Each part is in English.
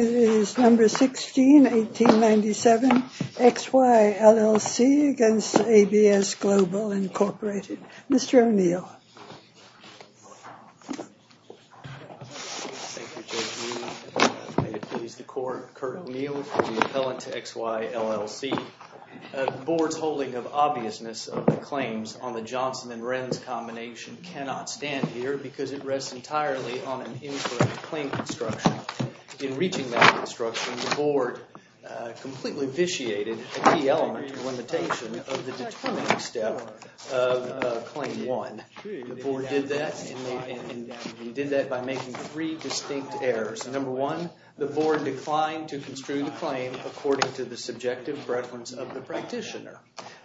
It is No. 16, 1897, XY, LLC v. ABS Global, Inc. Mr. O'Neill. Thank you, J.D. May it please the Court, Curt O'Neill, the appellant to XY, LLC. The Board's holding of obviousness of the claims on the Johnson and Renz combination cannot stand here because it rests entirely on an incorrect claim construction. In reaching that construction, the Board completely vitiated a key element or limitation of the determining step of Claim 1. The Board did that by making three distinct errors. No. 1, the Board declined to construe the claim according to the subjective preference of the practitioner.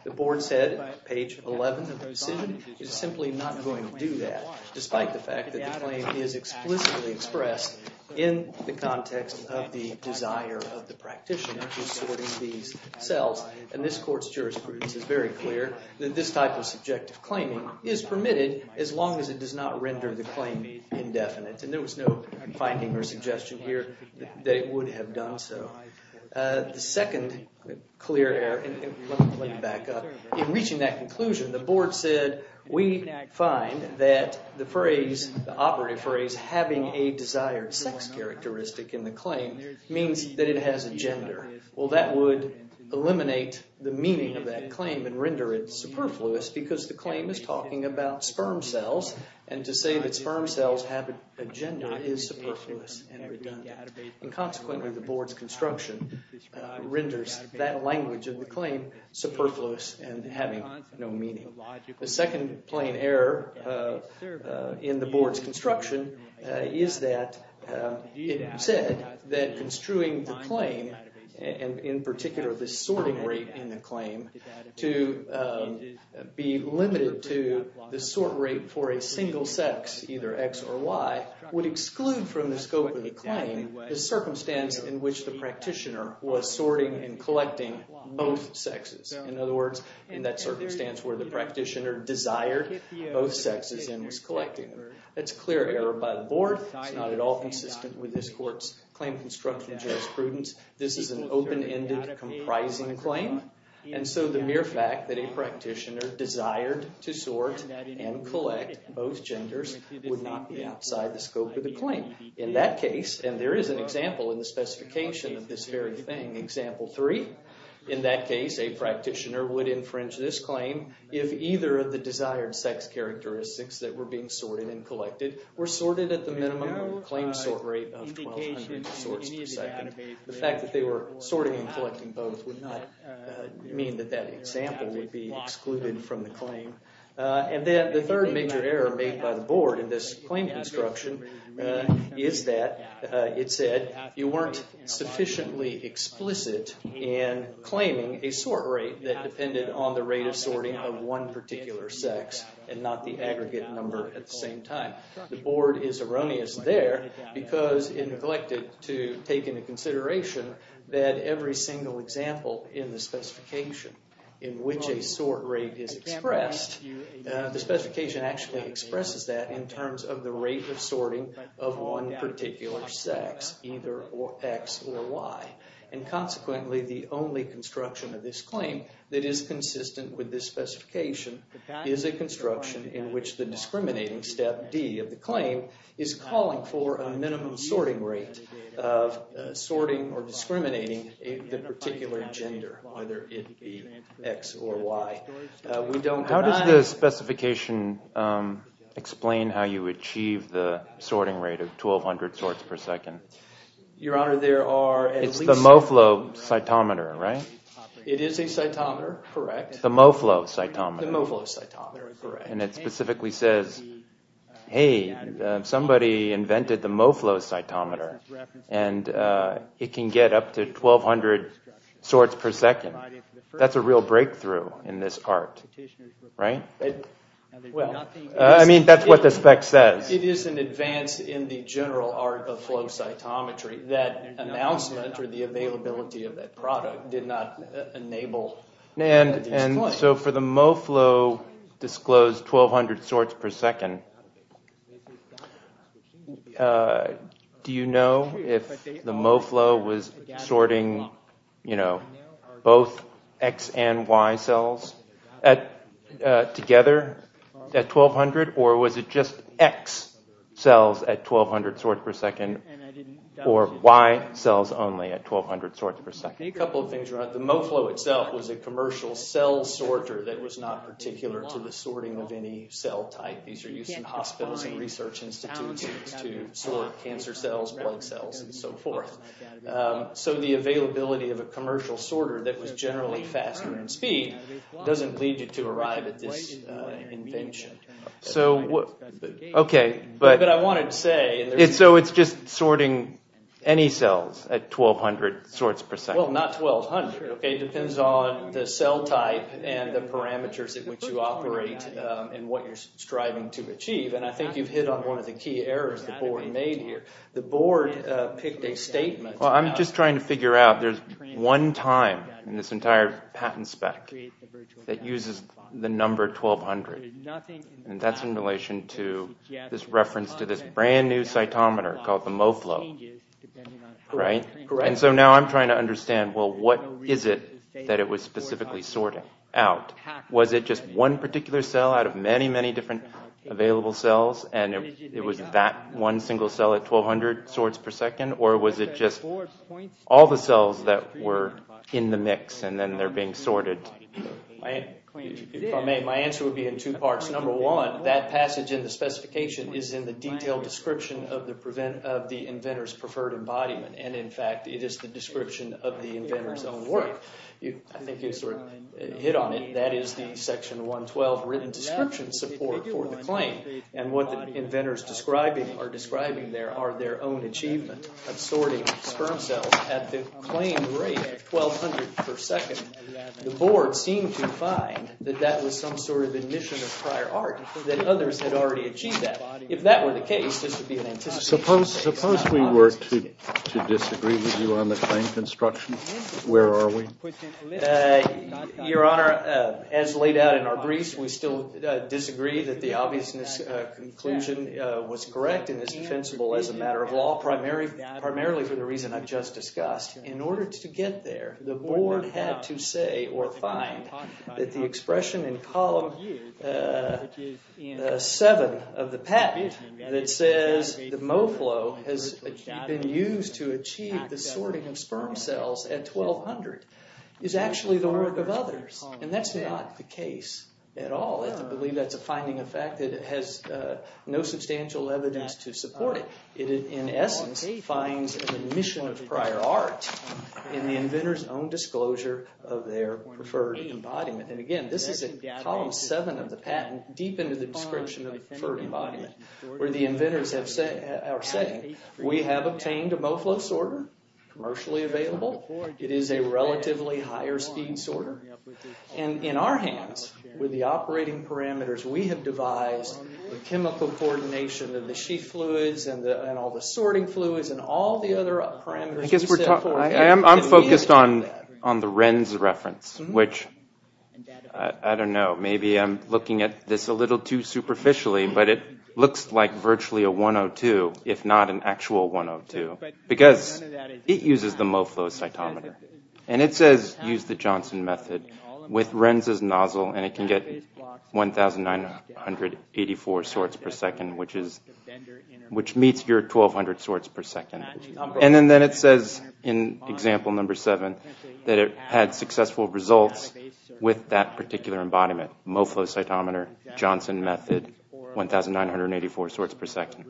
The Board said, page 11 of the proceeding, is simply not going to do that, despite the fact that the claim is explicitly expressed in the context of the desire of the practitioner who is sorting these cells. And this Court's jurisprudence is very clear that this type of subjective claiming is permitted as long as it does not render the claim indefinite. And there was no finding or suggestion here that it would have done so. The second clear error, and let me bring it back up, in reaching that conclusion, the Board said, we find that the phrase, the operative phrase, having a desired sex characteristic in the claim means that it has a gender. Well, that would eliminate the meaning of that claim and render it superfluous because the claim is talking about sperm cells, and to say that sperm cells have a gender is superfluous and redundant. And consequently, the Board's construction renders that language of the claim superfluous and having no meaning. The second plain error in the Board's construction is that it said that construing the claim, and in particular the sorting rate in the claim, to be limited to the sort rate for a single sex, either X or Y, would exclude from the scope of the claim the circumstance in which the practitioner was sorting and collecting both sexes. In other words, in that circumstance where the practitioner desired both sexes and was collecting them. That's a clear error by the Board. It's not at all consistent with this Court's claim construction jurisprudence. This is an open-ended, comprising claim, and so the mere fact that a practitioner desired to sort and collect both genders would not be outside the scope of the claim. In that case, and there is an example in the specification of this very thing, Example 3, in that case a practitioner would infringe this claim if either of the desired sex characteristics that were being sorted and collected were sorted at the minimum claim sort rate of 1,200 sorts per second. The fact that they were sorting and collecting both would not mean that that example would be excluded from the claim. And then the third major error made by the Board in this claim construction is that it said you weren't sufficiently explicit in claiming a sort rate that depended on the rate of sorting of one particular sex and not the aggregate number at the same time. The Board is erroneous there because it neglected to take into consideration that every single example in the specification in which a sort rate is expressed, the specification actually expresses that in terms of the rate of sorting of one particular sex, either X or Y. And consequently, the only construction of this claim that is consistent with this specification is a construction in which the discriminating step, D, of the claim is calling for a minimum sorting rate of sorting or discriminating the particular gender, whether it be X or Y. How does the specification explain how you achieve the sorting rate of 1,200 sorts per second? Your Honor, there are at least... It's the Moflo cytometer, right? It is a cytometer, correct. The Moflo cytometer. The Moflo cytometer, correct. And it specifically says, hey, somebody invented the Moflo cytometer and it can get up to 1,200 sorts per second. That's a real breakthrough in this part, right? I mean, that's what the spec says. It is an advance in the general art of flow cytometry. That announcement or the availability of that product did not enable... And so for the Moflo disclosed 1,200 sorts per second, do you know if the Moflo was sorting both X and Y cells together at 1,200 or was it just X cells at 1,200 sorts per second or Y cells only at 1,200 sorts per second? A couple of things. The Moflo itself was a commercial cell sorter that was not particular to the sorting of any cell type. These are used in hospitals and research institutions to sort cancer cells, blood cells, and so forth. So the availability of a commercial sorter that was generally faster in speed doesn't lead you to arrive at this invention. So, okay, but... But I wanted to say... And so it's just sorting any cells at 1,200 sorts per second. Well, not 1,200, okay? It depends on the cell type and the parameters at which you operate and what you're striving to achieve, and I think you've hit on one of the key errors the board made here. The board picked a statement about... Well, I'm just trying to figure out there's one time in this entire patent spec that uses the number 1,200, and that's in relation to this reference to this brand-new cytometer called the Moflo, right? Correct. And so now I'm trying to understand, well, what is it that it was specifically sorting out? Was it just one particular cell out of many, many different available cells and it was that one single cell at 1,200 sorts per second, or was it just all the cells that were in the mix and then they're being sorted? If I may, my answer would be in two parts. Number one, that passage in the specification is in the detailed description of the inventor's preferred embodiment, and in fact it is the description of the inventor's own work. I think you sort of hit on it. That is the Section 112 written description support for the claim, and what the inventors are describing there are their own achievements of sorting sperm cells at the claimed rate of 1,200 per second. The Board seemed to find that that was some sort of admission of prior art, that others had already achieved that. If that were the case, this would be an anticipated case. Suppose we were to disagree with you on the claim construction. Where are we? Your Honor, as laid out in our briefs, we still disagree that the obviousness conclusion was correct and is defensible as a matter of law, primarily for the reason I've just discussed. In order to get there, the Board had to say or find that the expression in column 7 of the patent that says the MoFlo has been used to achieve the sorting of sperm cells at 1,200 is actually the work of others, and that's not the case at all. I believe that's a finding of fact that has no substantial evidence to support it. In essence, it finds an admission of prior art in the inventors' own disclosure of their preferred embodiment. Again, this is in column 7 of the patent, deep into the description of preferred embodiment, where the inventors are saying, we have obtained a MoFlo sorter, commercially available. It is a relatively higher-speed sorter. In our hands, with the operating parameters, we have devised the chemical coordination of the sheath fluids and all the sorting fluids and all the other parameters. I'm focused on the Renz reference, which, I don't know, maybe I'm looking at this a little too superficially, but it looks like virtually a 102, if not an actual 102, because it uses the MoFlo cytometer, and it says, use the Johnson method with Renz's nozzle, and it can get 1,984 sorts per second, which meets your 1,200 sorts per second. And then it says, in example number 7, that it had successful results with that particular embodiment, MoFlo cytometer, Johnson method, 1,984 sorts per second.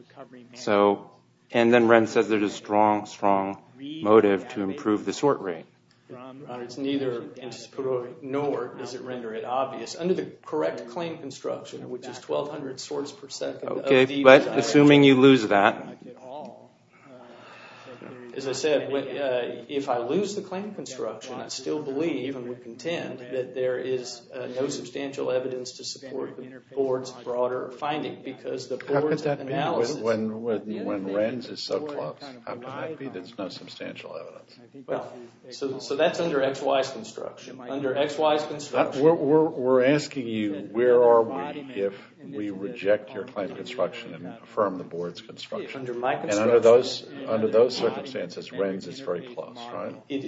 And then Renz says there's a strong, strong motive to improve the sort rate. Your Honor, it's neither anticipatory nor does it render it obvious. Under the correct claim construction, which is 1,200 sorts per second, Okay, but assuming you lose that. As I said, if I lose the claim construction, I still believe and would contend that there is no substantial evidence to support the board's broader finding, because the board's analysis How could that be when Renz is so close? How could that be that there's no substantial evidence? Well, so that's under XY's construction. Under XY's construction We're asking you, where are we if we reject your claim construction and affirm the board's construction? Under my construction And under those circumstances, Renz is very close, right? It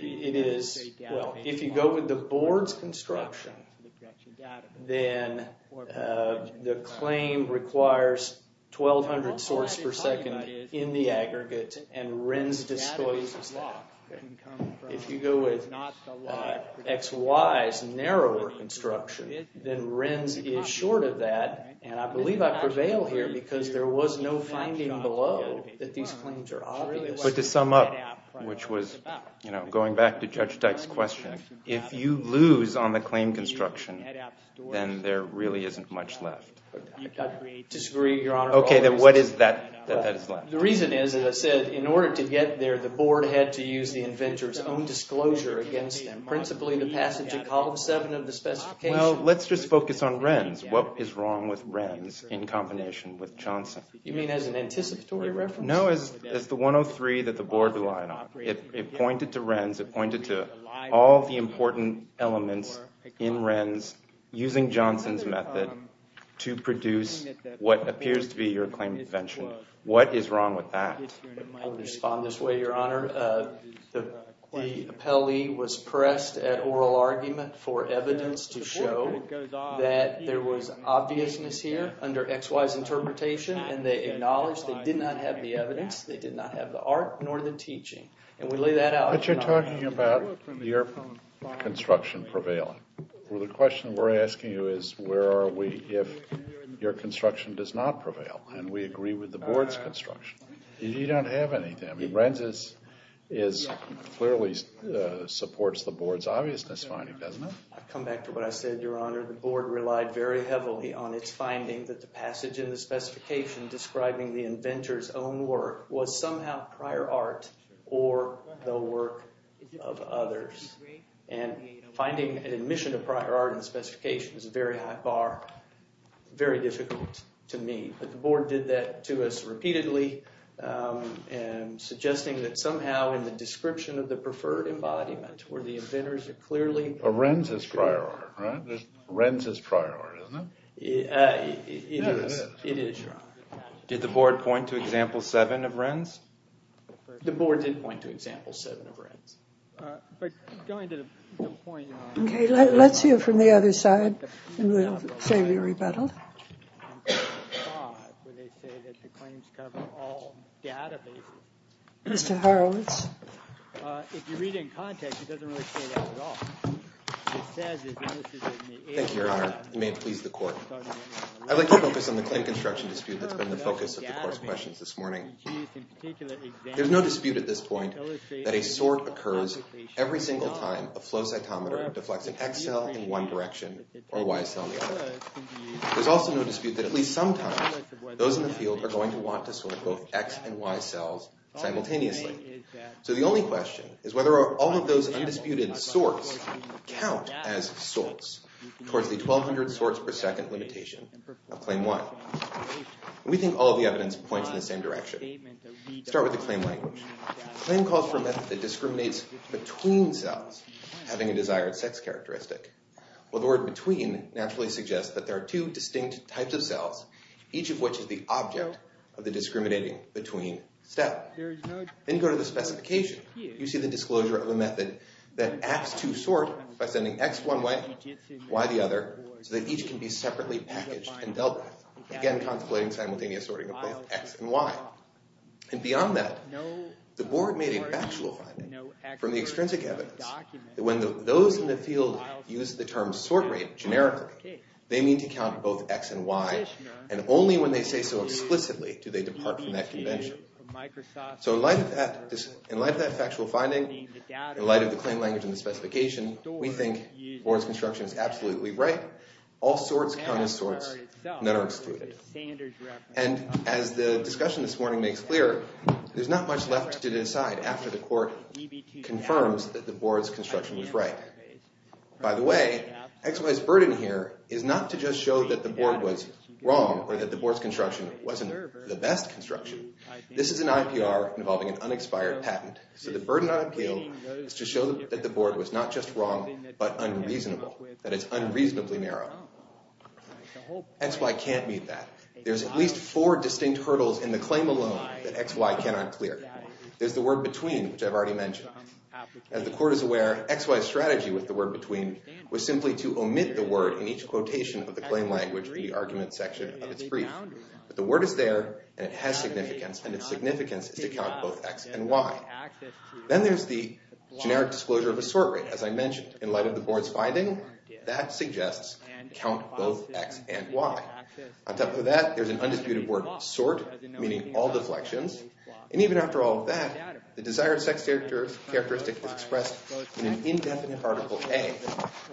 is, well, if you go with the board's construction, then the claim requires 1,200 sorts per second in the aggregate, and Renz destroys that. If you go with XY's narrower construction, then Renz is short of that, and I believe I prevail here because there was no finding below that these claims are obvious. But to sum up, which was going back to Judge Dyke's question, if you lose on the claim construction, then there really isn't much left. I disagree, Your Honor. Okay, then what is that that is left? The reason is, as I said, in order to get there, the board had to use the inventor's own disclosure against them, principally the passage in Column 7 of the specification. Well, let's just focus on Renz. What is wrong with Renz in combination with Johnson? You mean as an anticipatory reference? No, as the 103 that the board relied on. It pointed to Renz. It pointed to all the important elements in Renz using Johnson's method to produce what appears to be your claim invention. What is wrong with that? I would respond this way, Your Honor. The appellee was pressed at oral argument for evidence to show that there was obviousness here under XY's interpretation, and they acknowledged they did not have the evidence. They did not have the art nor the teaching, and we lay that out. But you're talking about your construction prevailing. Well, the question we're asking you is where are we if your construction does not prevail, and we agree with the board's construction. You don't have anything. Renz clearly supports the board's obviousness finding, doesn't it? I come back to what I said, Your Honor. The board relied very heavily on its finding that the passage in the specification describing the inventor's own work was somehow prior art or the work of others. And finding an admission of prior art in the specification is a very high bar, very difficult to me. But the board did that to us repeatedly, and suggesting that somehow in the description of the preferred embodiment where the inventors are clearly- Of Renz's prior art, right? Renz's prior art, isn't it? It is. Yeah, it is. It is prior art. Did the board point to example seven of Renz? The board did point to example seven of Renz. But going to the point- Okay, let's hear from the other side, and we'll say we rebuttal. Mr. Horowitz. If you read it in context, it doesn't really say that at all. It says- Thank you, Your Honor. It may please the court. I'd like to focus on the claim construction dispute that's been the focus of the court's questions this morning. There's no dispute at this point that a sort occurs every single time a flow cytometer deflects an X cell in one direction or a Y cell in the other. There's also no dispute that at least sometimes those in the field are going to want to sort both X and Y cells simultaneously. So the only question is whether all of those undisputed sorts count as sorts towards the 1,200 sorts per second limitation of Claim 1. We think all of the evidence points in the same direction. Let's start with the claim language. The claim calls for a method that discriminates between cells having a desired sex characteristic. Well, the word between naturally suggests that there are two distinct types of cells, each of which is the object of the discriminating between step. Then you go to the specification. You see the disclosure of a method that acts to sort by sending X one way, Y the other, so that each can be separately packaged and dealt with, again contemplating simultaneous sorting of both X and Y. And beyond that, the board made a factual finding from the extrinsic evidence that when those in the field use the term sort rate generically, they mean to count both X and Y, and only when they say so explicitly do they depart from that convention. So in light of that factual finding, in light of the claim language and the specification, we think the board's construction is absolutely right. All sorts count as sorts. None are excluded. And as the discussion this morning makes clear, there's not much left to decide after the court confirms that the board's construction was right. By the way, XY's burden here is not to just show that the board was wrong or that the board's construction wasn't the best construction. This is an IPR involving an unexpired patent, so the burden on appeal is to show that the board was not just wrong but unreasonable, that it's unreasonably narrow. XY can't meet that. There's at least four distinct hurdles in the claim alone that XY cannot clear. There's the word between, which I've already mentioned. As the court is aware, XY's strategy with the word between was simply to omit the word in each quotation of the claim language in the argument section of its brief. But the word is there, and it has significance, and its significance is to count both X and Y. Then there's the generic disclosure of a sort rate, as I mentioned. In light of the board's finding, that suggests count both X and Y. On top of that, there's an undisputed word, sort, meaning all deflections. And even after all of that, the desired sex characteristic is expressed in an indefinite Article A,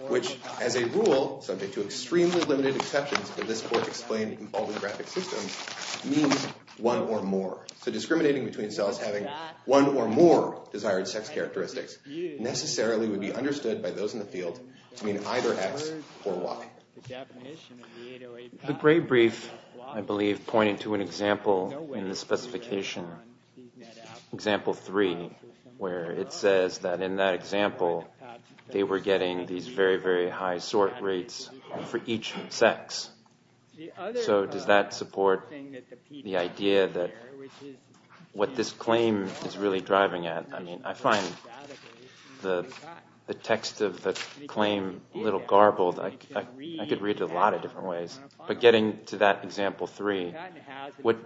which, as a rule, subject to extremely limited exceptions that this court explained involving graphic systems, means one or more. So discriminating between cells having one or more desired sex characteristics necessarily would be understood by those in the field to mean either X or Y. The gray brief, I believe, pointed to an example in the specification, example three, where it says that in that example, they were getting these very, very high sort rates for each sex. So does that support the idea that what this claim is really driving at? I mean, I find the text of the claim a little garbled. I could read it a lot of different ways, but getting to that example three, what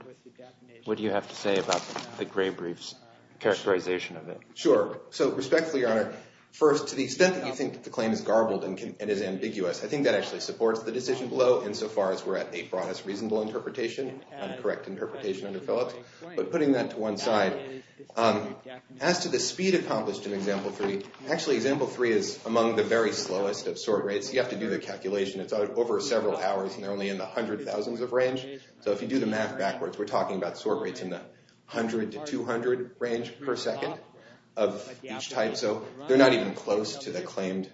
do you have to say about the gray brief's characterization of it? Sure. So respectfully, Your Honor, first, to the extent that you think that the claim is garbled and is ambiguous, I think that actually supports the decision below insofar as we're at a broadest reasonable interpretation and correct interpretation under Phillips. But putting that to one side, as to the speed accomplished in example three, actually example three is among the very slowest of sort rates. You have to do the calculation. It's over several hours, and they're only in the 100,000s of range. So if you do the math backwards, we're talking about sort rates in the 100 to 200 range per second of each type. So they're not even close to the claimed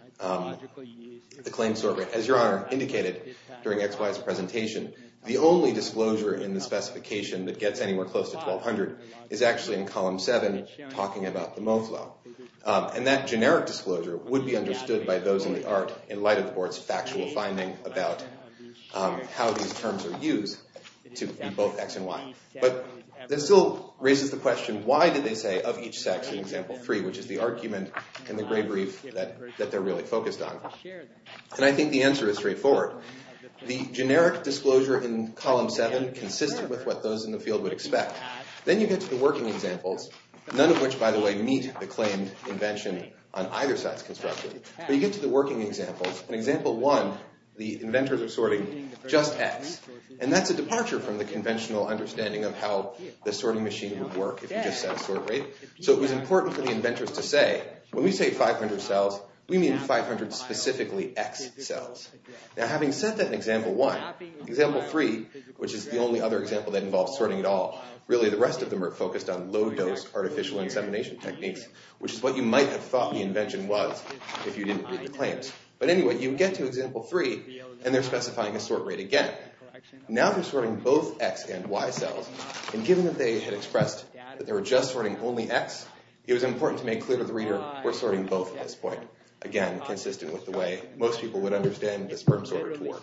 sort rate. As Your Honor indicated during XY's presentation, the only disclosure in the specification that gets anywhere close to 1,200 is actually in column seven, talking about the Moflow. And that generic disclosure would be understood by those in the art in light of the board's factual finding about how these terms are used to both X and Y. But that still raises the question, why did they say of each sex in example three, which is the argument in the gray brief that they're really focused on? And I think the answer is straightforward. The generic disclosure in column seven consisted with what those in the field would expect. Then you get to the working examples, none of which, by the way, meet the claimed invention on either side's construction. But you get to the working examples. In example one, the inventors are sorting just X. And that's a departure from the conventional understanding of how the sorting machine would work if you just set a sort rate. So it was important for the inventors to say, when we say 500 cells, we mean 500 specifically X cells. Now having set that in example one, example three, which is the only other example that involves sorting at all, really the rest of them are focused on low dose artificial insemination techniques, which is what you might have thought the invention was if you didn't read the claims. But anyway, you get to example three, and they're specifying a sort rate again. Now they're sorting both X and Y cells. And given that they had expressed that they were just sorting only X, it was important to make clear to the reader, we're sorting both at this point. Again, consistent with the way most people would understand the sperm sorter to work.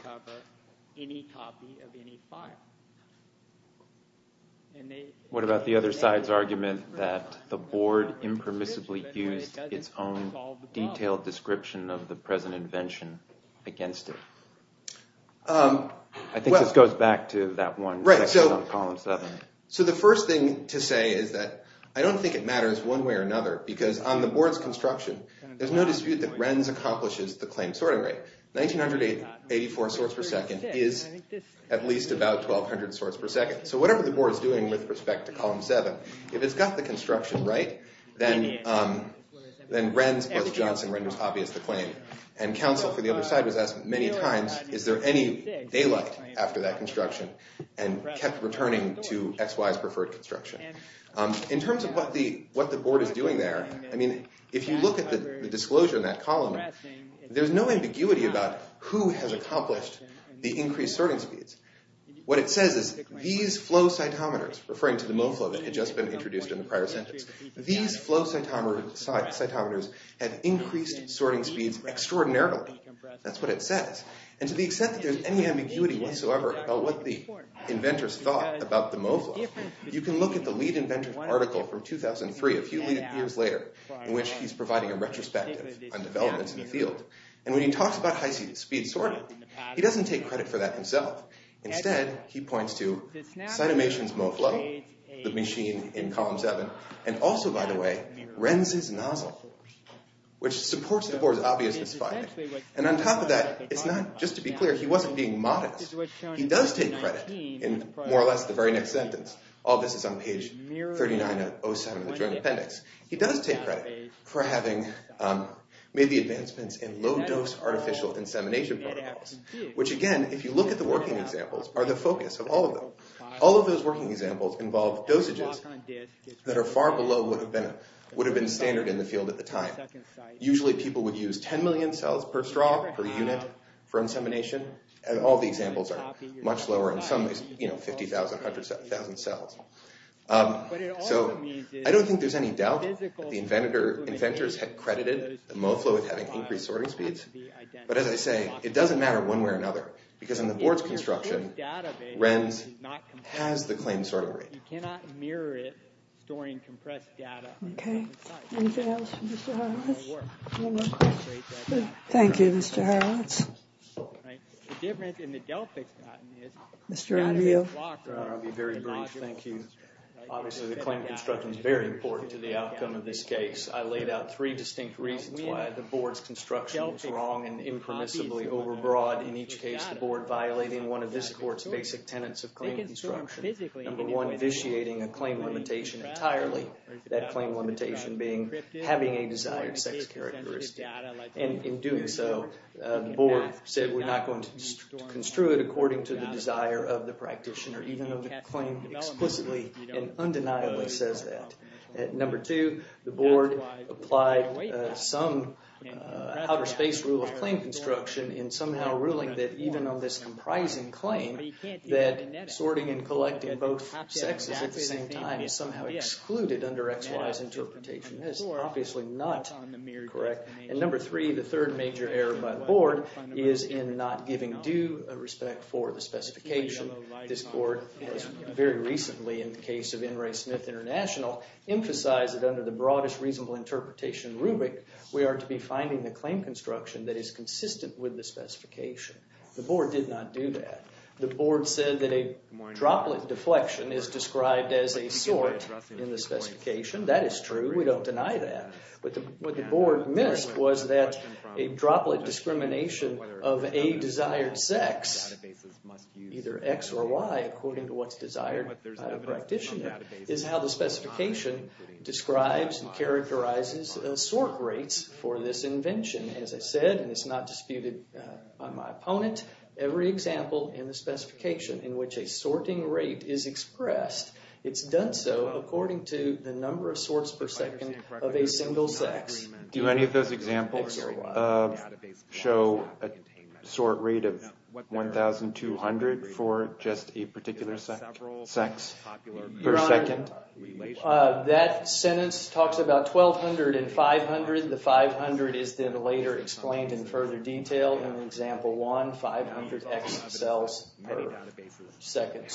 What about the other side's argument that the board impermissibly used its own detailed description of the present invention against it? I think this goes back to that one section on column seven. So the first thing to say is that I don't think it matters one way or another, because on the board's construction, there's no dispute that Renz accomplishes the claimed sorting rate. 1,984 sorts per second is at least about 1,200 sorts per second. So whatever the board is doing with respect to column seven, if it's got the construction right, then Renz or Johnson renders obvious the claim. And counsel for the other side was asked many times, is there any daylight after that construction, and kept returning to XY's preferred construction. In terms of what the board is doing there, if you look at the disclosure in that column, there's no ambiguity about who has accomplished the increased sorting speeds. What it says is these flow cytometers, referring to the MoFlo that had just been introduced in the prior sentence, these flow cytometers have increased sorting speeds extraordinarily. That's what it says. And to the extent that there's any ambiguity whatsoever about what the inventors thought about the MoFlo, you can look at the lead inventor article from 2003, a few years later, in which he's providing a retrospective on developments in the field. And when he talks about high-speed sorting, he doesn't take credit for that himself. Instead, he points to Cynomation's MoFlo, the machine in column seven, and also, by the way, Renz's nozzle, which supports the board's obviousness finding. And on top of that, just to be clear, he wasn't being modest. He does take credit in more or less the very next sentence. All this is on page 39 of 07 of the Joint Appendix. He does take credit for having made the advancements in low-dose artificial insemination protocols, which, again, if you look at the working examples, are the focus of all of them. All of those working examples involve dosages that are far below what would have been standard in the field at the time. Usually, people would use 10 million cells per straw per unit for insemination, and all the examples are much lower in some, you know, 50,000, 100,000 cells. So I don't think there's any doubt that the inventors had credited MoFlo with having increased sorting speeds, but as I say, it doesn't matter one way or another, because in the board's construction, Renz has the claimed sorting rate. Okay. Anything else for Mr. Horowitz? Thank you, Mr. Horowitz. The difference in the Delphix patent is... Mr. O'Neill. I'll be very brief. Thank you. Obviously, the claim construction is very important to the outcome of this case. I laid out three distinct reasons why the board's construction was wrong and impermissibly overbroad. In each case, the board violating one of this court's basic tenets of claim construction. Number one, vitiating a claim limitation entirely, that claim limitation being having a desired sex characteristic. In doing so, the board said, we're not going to construe it according to the desire of the practitioner, even though the claim explicitly and undeniably says that. Number two, the board applied some outer space rule of claim construction in somehow ruling that even on this comprising claim, that sorting and collecting both sexes at the same time is somehow excluded under XY's interpretation. That is obviously not correct. And number three, the third major error by the board is in not giving due respect for the specification. This court has very recently, in the case of N. Ray Smith International, emphasized that under the broadest reasonable interpretation rubric, we are to be finding the claim construction that is consistent with the specification. The board did not do that. The board said that a droplet deflection is described as a sort in the specification. That is true. We don't deny that. What the board missed was that a droplet discrimination of a desired sex, either X or Y, according to what's desired by the practitioner, is how the specification describes and characterizes sort rates for this invention. As I said, and it's not disputed by my opponent, every example in the specification in which a sorting rate is expressed, it's done so according to the number of sorts per second of a single sex. Do any of those examples show a sort rate of 1,200 for just a particular sex per second? Your Honor, that sentence talks about 1,200 and 500. The 500 is then later explained in further detail in example one, 500 X cells per second.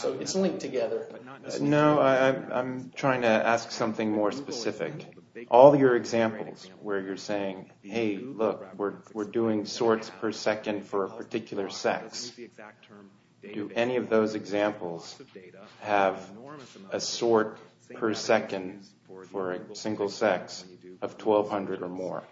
No, I'm trying to ask something more specific. All your examples where you're saying, hey, look, we're doing sorts per second for a particular sex. Do any of those examples have a sort per second for a single sex of 1,200 or more?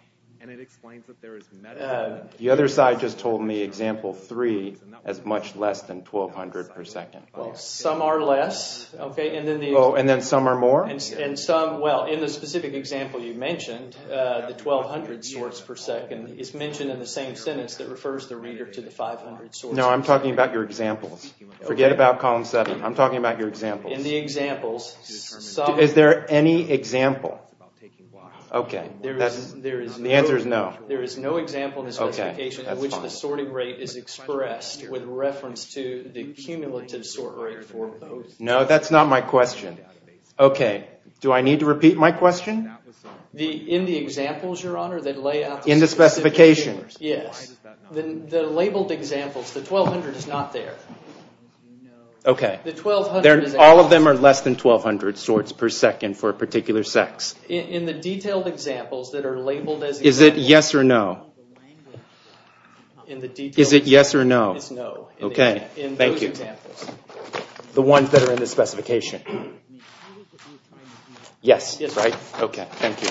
The other side just told me example three has much less than 1,200 per second. Well, some are less. And then some are more? Well, in the specific example you mentioned, the 1,200 sorts per second is mentioned in the same sentence that refers the reader to the 500 sorts per second. No, I'm talking about your examples. Forget about column seven. I'm talking about your examples. In the examples, some… Is there any example? Okay, the answer is no. There is no example in the specification in which the sorting rate is expressed with reference to the cumulative sort rate for both. No, that's not my question. Okay, do I need to repeat my question? In the examples, Your Honor, that lay out… In the specification. Yes. The labeled examples, the 1,200 is not there. Okay. All of them are less than 1,200 sorts per second for a particular sex. In the detailed examples that are labeled as… Is it yes or no? Is it yes or no? It's no. Okay, thank you. The ones that are in the specification. Yes, right? Okay, thank you.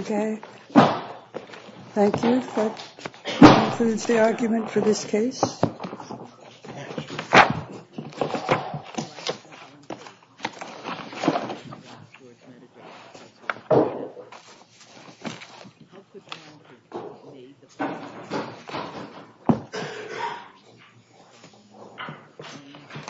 Okay, thank you. That concludes the argument for this case. Thank you.